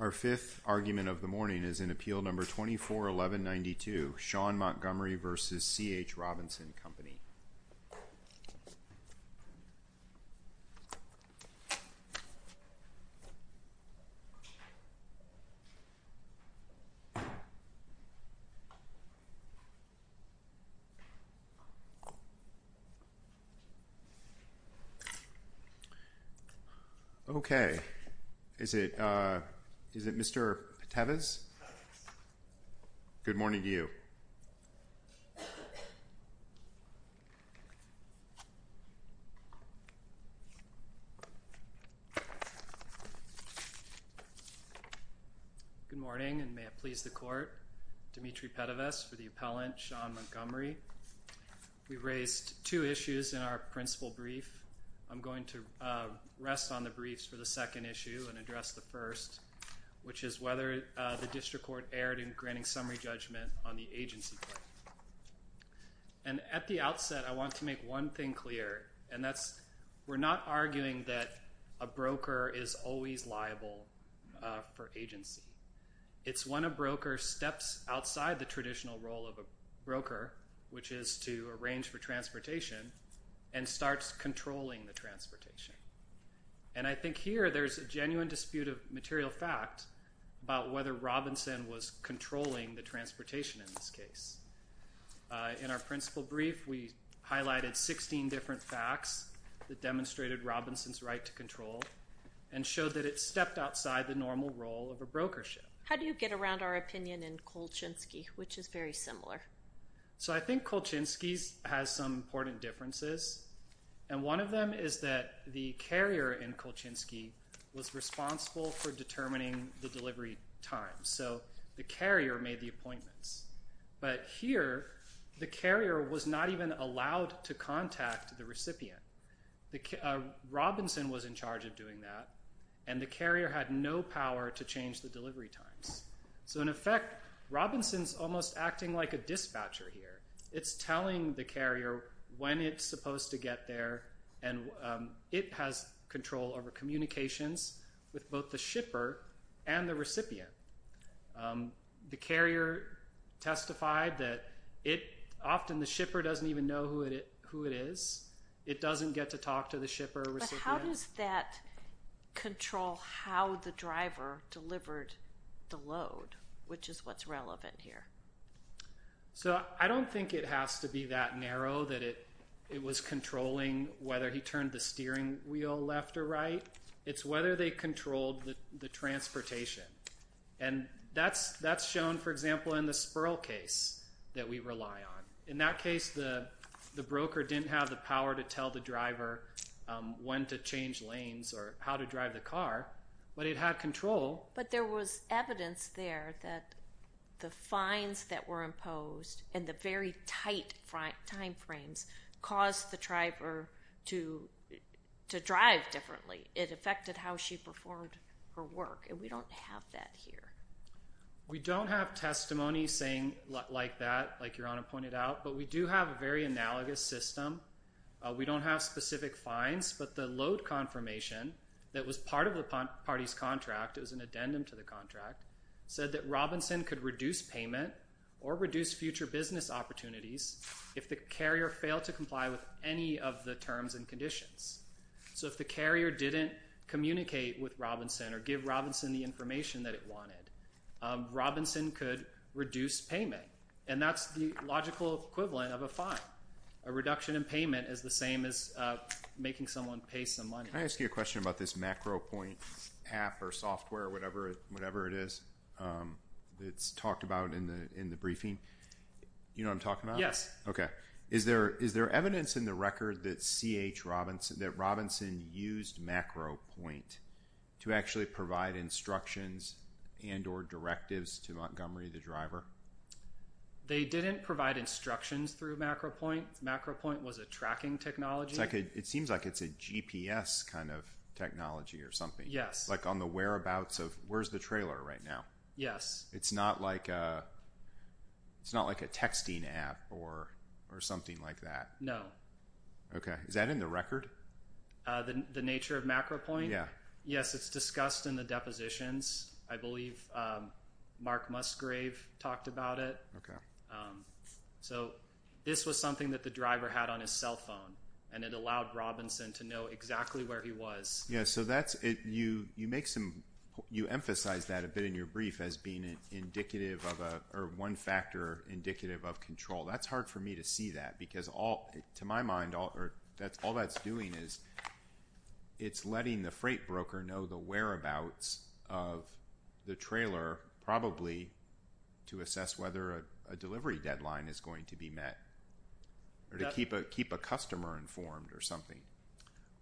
Our fifth argument of the morning is in appeal number 24-1192, Sean Montgomery v. C.H. Robinson Company. Okay. Is it Mr. Peteves? Good morning to you. Good morning and may it please the Court. Dimitri Peteves for the appellant, Sean Montgomery. We've raised two issues in our principal brief. I'm going to rest on the briefs for the second issue and address the first, which is whether the district court erred in granting summary judgment on the agency claim. And at the outset, I want to make one thing clear, and that's we're not arguing that a broker is always liable for agency. It's when a broker steps outside the traditional role of a broker, which is to arrange for transportation, and starts controlling the transportation. And I think here there's a genuine dispute of material fact about whether Robinson was controlling the transportation in this case. In our principal brief, we highlighted 16 different facts that demonstrated Robinson's right to control and showed that it stepped outside the normal role of a brokership. How do you get around our opinion in Kolchinsky, which is very similar? So I think Kolchinsky has some important differences, and one of them is that the carrier in Kolchinsky was responsible for determining the delivery time. So the carrier made the appointments. But here, the carrier was not even allowed to contact the recipient. Robinson was in charge of doing that, and the carrier had no power to change the delivery times. So in effect, Robinson's almost acting like a dispatcher here. It's telling the carrier when it's supposed to get there, and it has control over communications with both the shipper and the recipient. The carrier testified that often the shipper doesn't even know who it is. It doesn't get to talk to the shipper or recipient. But how does that control how the driver delivered the load, which is what's relevant here? So I don't think it has to be that narrow that it was controlling whether he turned the steering wheel left or right. It's whether they controlled the transportation. And that's shown, for example, in the Spurl case that we rely on. In that case, the broker didn't have the power to tell the driver when to change lanes or how to drive the car, but it had control. But there was evidence there that the fines that were imposed and the very tight time frames caused the driver to drive differently. It affected how she performed her work, and we don't have that here. We don't have testimony saying like that, like Your Honor pointed out, but we do have a very analogous system. We don't have specific fines, but the load confirmation that was part of the party's contract, it was an addendum to the contract, said that Robinson could reduce payment or reduce future business opportunities if the carrier failed to comply with any of the terms and conditions. So if the carrier didn't communicate with Robinson or give Robinson the information that it wanted, Robinson could reduce payment. And that's the logical equivalent of a fine. A reduction in payment is the same as making someone pay some money. Can I ask you a question about this MacroPoint app or software or whatever it is that's talked about in the briefing? You know what I'm talking about? Yes. Okay. Is there evidence in the record that C.H. Robinson used MacroPoint to actually provide instructions and or directives to Montgomery, the driver? They didn't provide instructions through MacroPoint. MacroPoint was a tracking technology. It seems like it's a GPS kind of technology or something. Yes. Like on the whereabouts of where's the trailer right now? Yes. It's not like a texting app or something like that? No. Okay. Is that in the record? The nature of MacroPoint? Yes. Yes, it's discussed in the depositions. I believe Mark Musgrave talked about it. Okay. So this was something that the driver had on his cell phone, and it allowed Robinson to know exactly where he was. You emphasize that a bit in your brief as being one factor indicative of control. That's hard for me to see that because, to my mind, all that's doing is it's letting the freight broker know the whereabouts of the trailer, probably to assess whether a delivery deadline is going to be met or to keep a customer informed or something.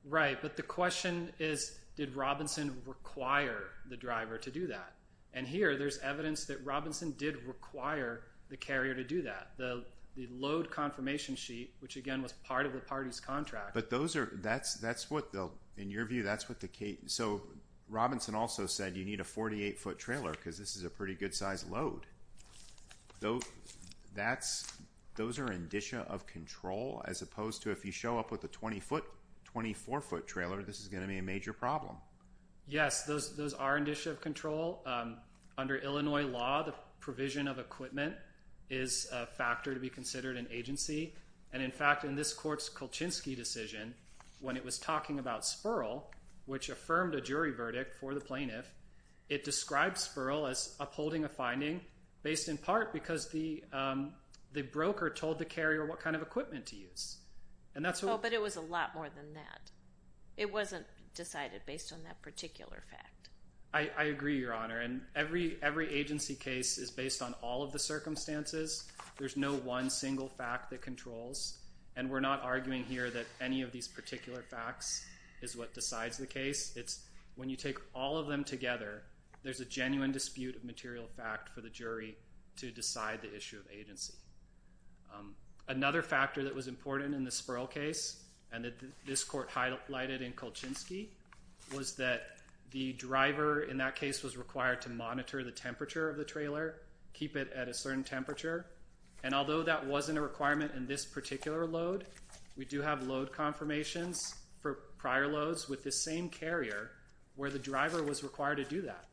Right. But the question is, did Robinson require the driver to do that? And here there's evidence that Robinson did require the carrier to do that. The load confirmation sheet, which, again, was part of the party's contract. But those are – that's what the – in your view, that's what the – so Robinson also said you need a 48-foot trailer because this is a pretty good-sized load. Those – that's – those are indicia of control as opposed to if you show up with a 20-foot, 24-foot trailer, this is going to be a major problem. Yes, those are indicia of control. Under Illinois law, the provision of equipment is a factor to be considered in agency. And, in fact, in this court's Kolchinsky decision, when it was talking about Spurl, which affirmed a jury verdict for the plaintiff, it described Spurl as upholding a finding based in part because the broker told the carrier what kind of equipment to use. And that's what – Oh, but it was a lot more than that. It wasn't decided based on that particular fact. I agree, Your Honor. And every agency case is based on all of the circumstances. There's no one single fact that controls. And we're not arguing here that any of these particular facts is what decides the case. It's when you take all of them together, there's a genuine dispute of material fact for the jury to decide the issue of agency. Another factor that was important in the Spurl case, and that this court highlighted in Kolchinsky, was that the driver in that case was required to monitor the temperature of the trailer, keep it at a certain temperature. And although that wasn't a requirement in this particular load, we do have load confirmations for prior loads with the same carrier where the driver was required to do that.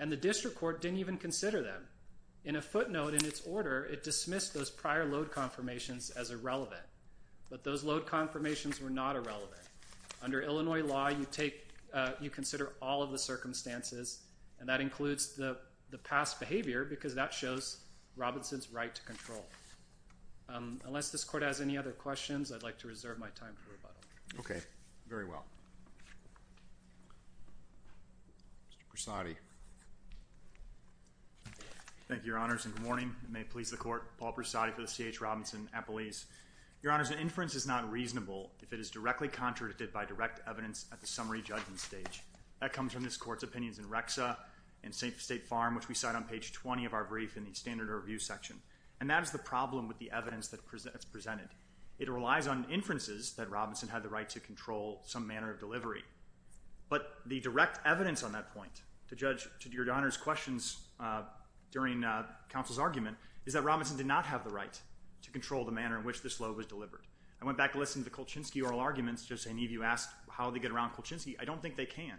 And the district court didn't even consider them. In a footnote in its order, it dismissed those prior load confirmations as irrelevant. But those load confirmations were not irrelevant. Under Illinois law, you consider all of the circumstances, and that includes the past behavior because that shows Robinson's right to control. Unless this court has any other questions, I'd like to reserve my time for rebuttal. Okay. Very well. Mr. Prasadi. Thank you, Your Honors. And good morning. It may please the Court. Paul Prasadi for the C.H. Robinson Appellees. Your Honors, an inference is not reasonable if it is directly contradicted by direct evidence at the summary judgment stage. That comes from this Court's opinions in Rexa and State Farm, which we cite on page 20 of our brief in the standard review section. And that is the problem with the evidence that's presented. It relies on inferences that Robinson had the right to control some manner of delivery. But the direct evidence on that point, to judge Your Honors' questions during counsel's argument, is that Robinson did not have the right to control the manner in which this load was delivered. I went back and listened to the Kolchinsky oral arguments, just as any of you asked how they get around Kolchinsky. I don't think they can.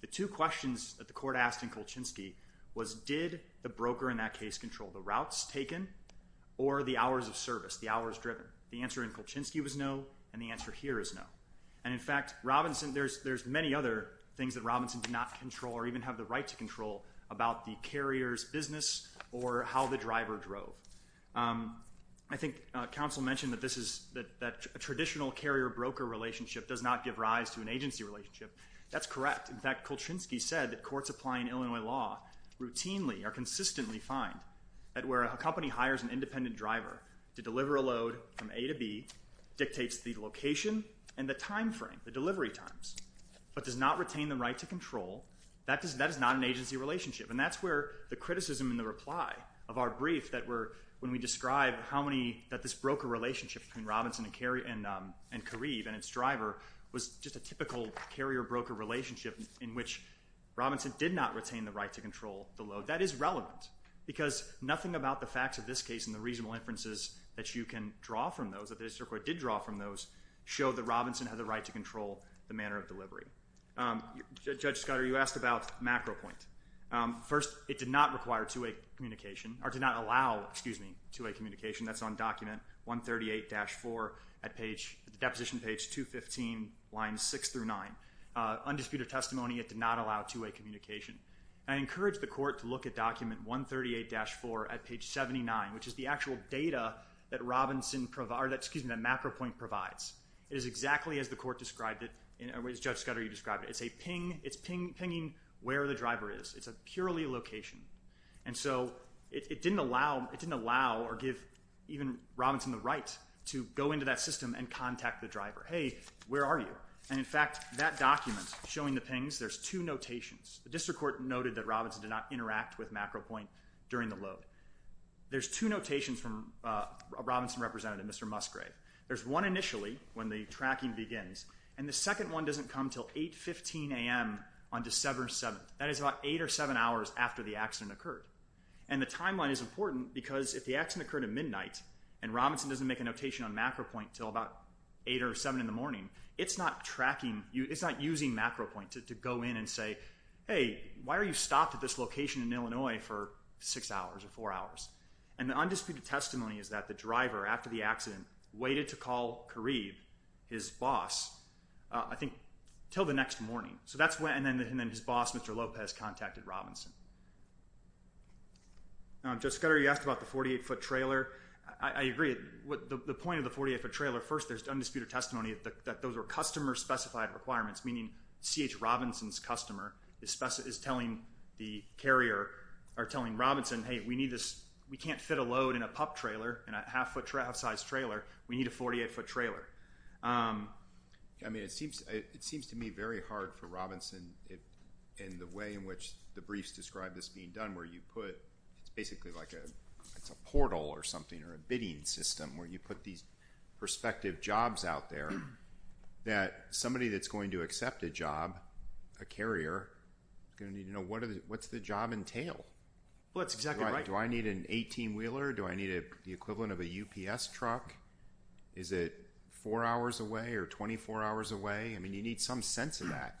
The two questions that the Court asked in Kolchinsky was, did the broker in that case control the routes taken or the hours of service, the hours driven? The answer in Kolchinsky was no, and the answer here is no. And, in fact, there's many other things that Robinson did not control or even have the right to control about the carrier's business or how the driver drove. I think counsel mentioned that a traditional carrier-broker relationship does not give rise to an agency relationship. That's correct. In fact, Kolchinsky said that courts applying Illinois law routinely or consistently find that where a company hires an independent driver to deliver a load from A to B dictates the location and the time frame, the delivery times, but does not retain the right to control, that is not an agency relationship. And that's where the criticism in the reply of our brief that when we describe how many, that this broker relationship between Robinson and Kareev and its driver was just a typical carrier-broker relationship in which Robinson did not retain the right to control the load. That is relevant because nothing about the facts of this case and the reasonable inferences that you can draw from those, that the district court did draw from those, show that Robinson had the right to control the manner of delivery. Judge Scudder, you asked about macro point. First, it did not require two-way communication or did not allow, excuse me, two-way communication. That's on document 138-4 at the deposition page 215, lines 6 through 9. Undisputed testimony, it did not allow two-way communication. I encourage the court to look at document 138-4 at page 79, which is the actual data that macro point provides. It is exactly as the court described it, as Judge Scudder, you described it. It's a ping, it's pinging where the driver is. It's a purely location. And so it didn't allow or give even Robinson the right to go into that system and contact the driver. Hey, where are you? And in fact, that document showing the pings, there's two notations. The district court noted that Robinson did not interact with macro point during the load. There's two notations from a Robinson representative, Mr. Musgrave. There's one initially when the tracking begins, and the second one doesn't come until 8.15 a.m. on December 7th. That is about 8 or 7 hours after the accident occurred. And the timeline is important because if the accident occurred at midnight and Robinson doesn't make a notation on macro point until about 8 or 7 in the morning, it's not tracking, it's not using macro point to go in and say, hey, why are you stopped at this location in Illinois for six hours or four hours? And the undisputed testimony is that the driver, after the accident, waited to call Kareev, his boss, I think until the next morning. And then his boss, Mr. Lopez, contacted Robinson. Now, Judge Scudder, you asked about the 48-foot trailer. I agree. The point of the 48-foot trailer, first there's undisputed testimony that those are customer-specified requirements, meaning C.H. Robinson's customer is telling the carrier or telling Robinson, hey, we need this. We can't fit a load in a pup trailer, in a half-size trailer. We need a 48-foot trailer. I mean, it seems to me very hard for Robinson in the way in which the briefs describe this being done where you put, it's basically like a portal or something or a bidding system where you put these prospective jobs out there that somebody that's going to accept a job, a carrier, is going to need to know what's the job entail. Well, that's exactly right. Do I need an 18-wheeler? Do I need the equivalent of a UPS truck? Is it four hours away or 24 hours away? I mean, you need some sense of that.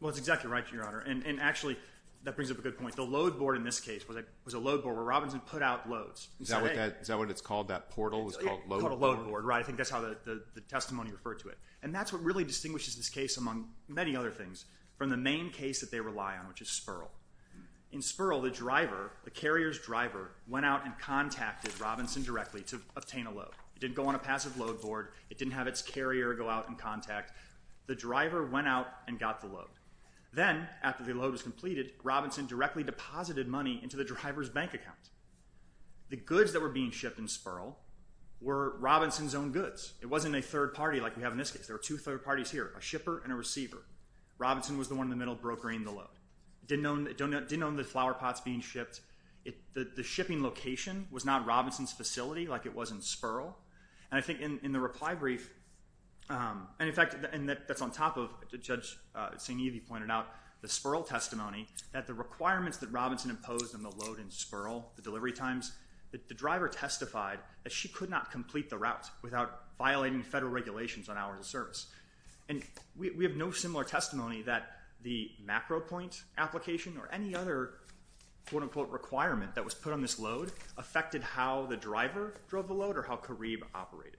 Well, that's exactly right, Your Honor. And actually, that brings up a good point. The load board in this case was a load board where Robinson put out loads. Is that what it's called, that portal? It's called a load board. It's called a load board, right. I think that's how the testimony referred to it. And that's what really distinguishes this case among many other things from the main case that they rely on, which is Spurl. In Spurl, the carrier's driver went out and contacted Robinson directly to obtain a load. It didn't go on a passive load board. It didn't have its carrier go out and contact. The driver went out and got the load. Then, after the load was completed, Robinson directly deposited money into the driver's bank account. The goods that were being shipped in Spurl were Robinson's own goods. It wasn't a third party like we have in this case. There were two third parties here, a shipper and a receiver. Robinson was the one in the middle brokering the load. It didn't own the flower pots being shipped. The shipping location was not Robinson's facility like it was in Spurl. And I think in the reply brief, and, in fact, that's on top of, Judge St. Evie pointed out the Spurl testimony, that the requirements that Robinson imposed on the load in Spurl, the delivery times, that the driver testified that she could not complete the route without violating federal regulations on hours of service. And we have no similar testimony that the macro point application or any other quote-unquote requirement that was put on this load affected how the driver drove the load or how Carib operated.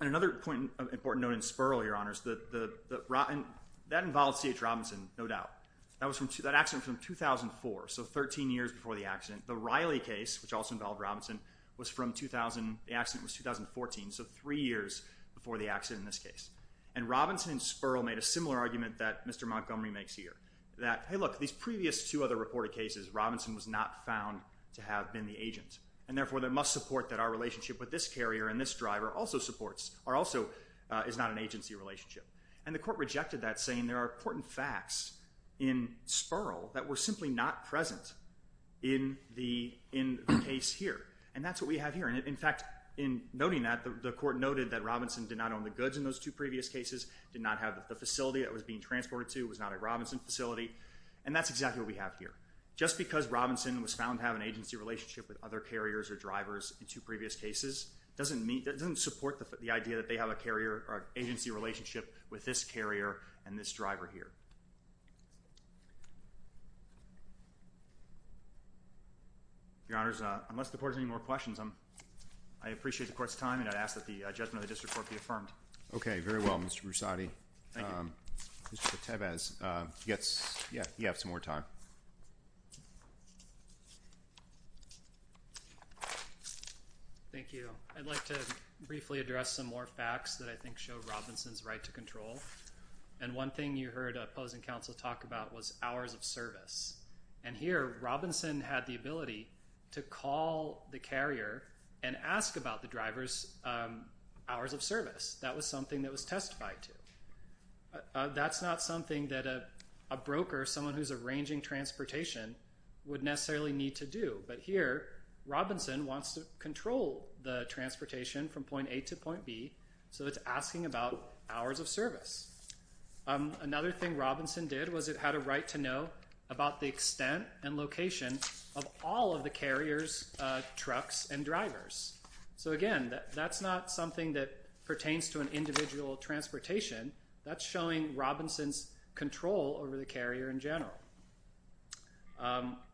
And another important note in Spurl, Your Honors, that involved C.H. Robinson, no doubt. That accident was from 2004, so 13 years before the accident. The Riley case, which also involved Robinson, the accident was 2014, so three years before the accident in this case. And Robinson and Spurl made a similar argument that Mr. Montgomery makes here, that, hey, look, these previous two other reported cases, Robinson was not found to have been the agent. And, therefore, there must support that our relationship with this carrier and this driver also supports, or also is not an agency relationship. And the court rejected that, saying there are important facts in Spurl that were simply not present in the case here. And that's what we have here. And, in fact, in noting that, the court noted that Robinson did not own the goods in those two previous cases, did not have the facility that it was being transported to, was not a Robinson facility, and that's exactly what we have here. Just because Robinson was found to have an agency relationship with other carriers or drivers in two previous cases doesn't support the idea that they have an agency relationship with this carrier and this driver here. Your Honors, unless the Court has any more questions, I appreciate the Court's time, and I ask that the judgment of the District Court be affirmed. Okay, very well, Mr. Broussardi. Thank you. Mr. Cortevez, you have some more time. Thank you. I'd like to briefly address some more facts that I think show Robinson's right to control. And one thing you heard opposing counsel talk about was hours of service. And here Robinson had the ability to call the carrier and ask about the driver's hours of service. That was something that was testified to. That's not something that a broker, someone who's arranging transportation, would necessarily need to do. But here Robinson wants to control the transportation from point A to point B, so it's asking about hours of service. Another thing Robinson did was it had a right to know about the extent and location of all of the carriers' trucks and drivers. So, again, that's not something that pertains to an individual transportation. That's showing Robinson's control over the carrier in general.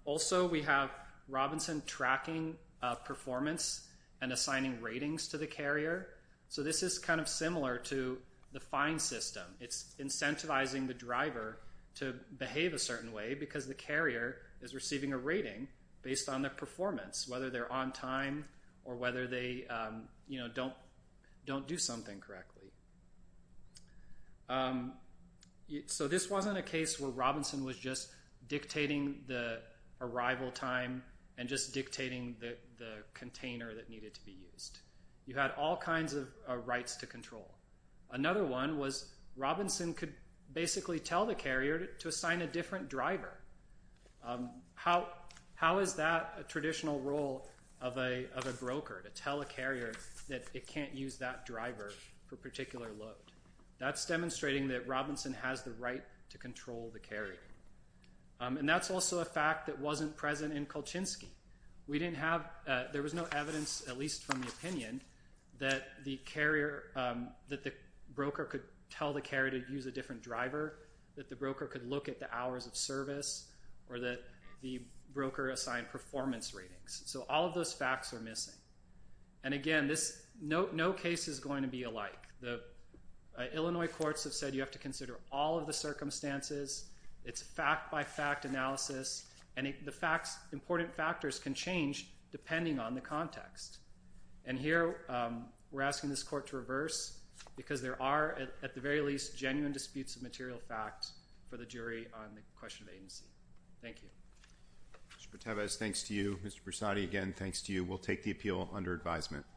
Also, we have Robinson tracking performance and assigning ratings to the carrier. So this is kind of similar to the fine system. It's incentivizing the driver to behave a certain way because the carrier is receiving a rating based on their performance, whether they're on time or whether they don't do something correctly. So this wasn't a case where Robinson was just dictating the arrival time and just dictating the container that needed to be used. You had all kinds of rights to control. Another one was Robinson could basically tell the carrier to assign a different driver. How is that a traditional role of a broker, to tell a carrier that it can't use that driver for a particular load? That's demonstrating that Robinson has the right to control the carrier. And that's also a fact that wasn't present in Kolchinsky. There was no evidence, at least from the opinion, that the broker could tell the carrier to use a different driver, that the broker could look at the hours of service, or that the broker assigned performance ratings. So all of those facts are missing. And again, no case is going to be alike. The Illinois courts have said you have to consider all of the circumstances. It's fact-by-fact analysis, and the important factors can change depending on the context. And here we're asking this court to reverse because there are, at the very least, genuine disputes of material fact for the jury on the question of agency. Thank you. Mr. Pertevez, thanks to you. Mr. Brasati, again, thanks to you. We'll take the appeal under advisement.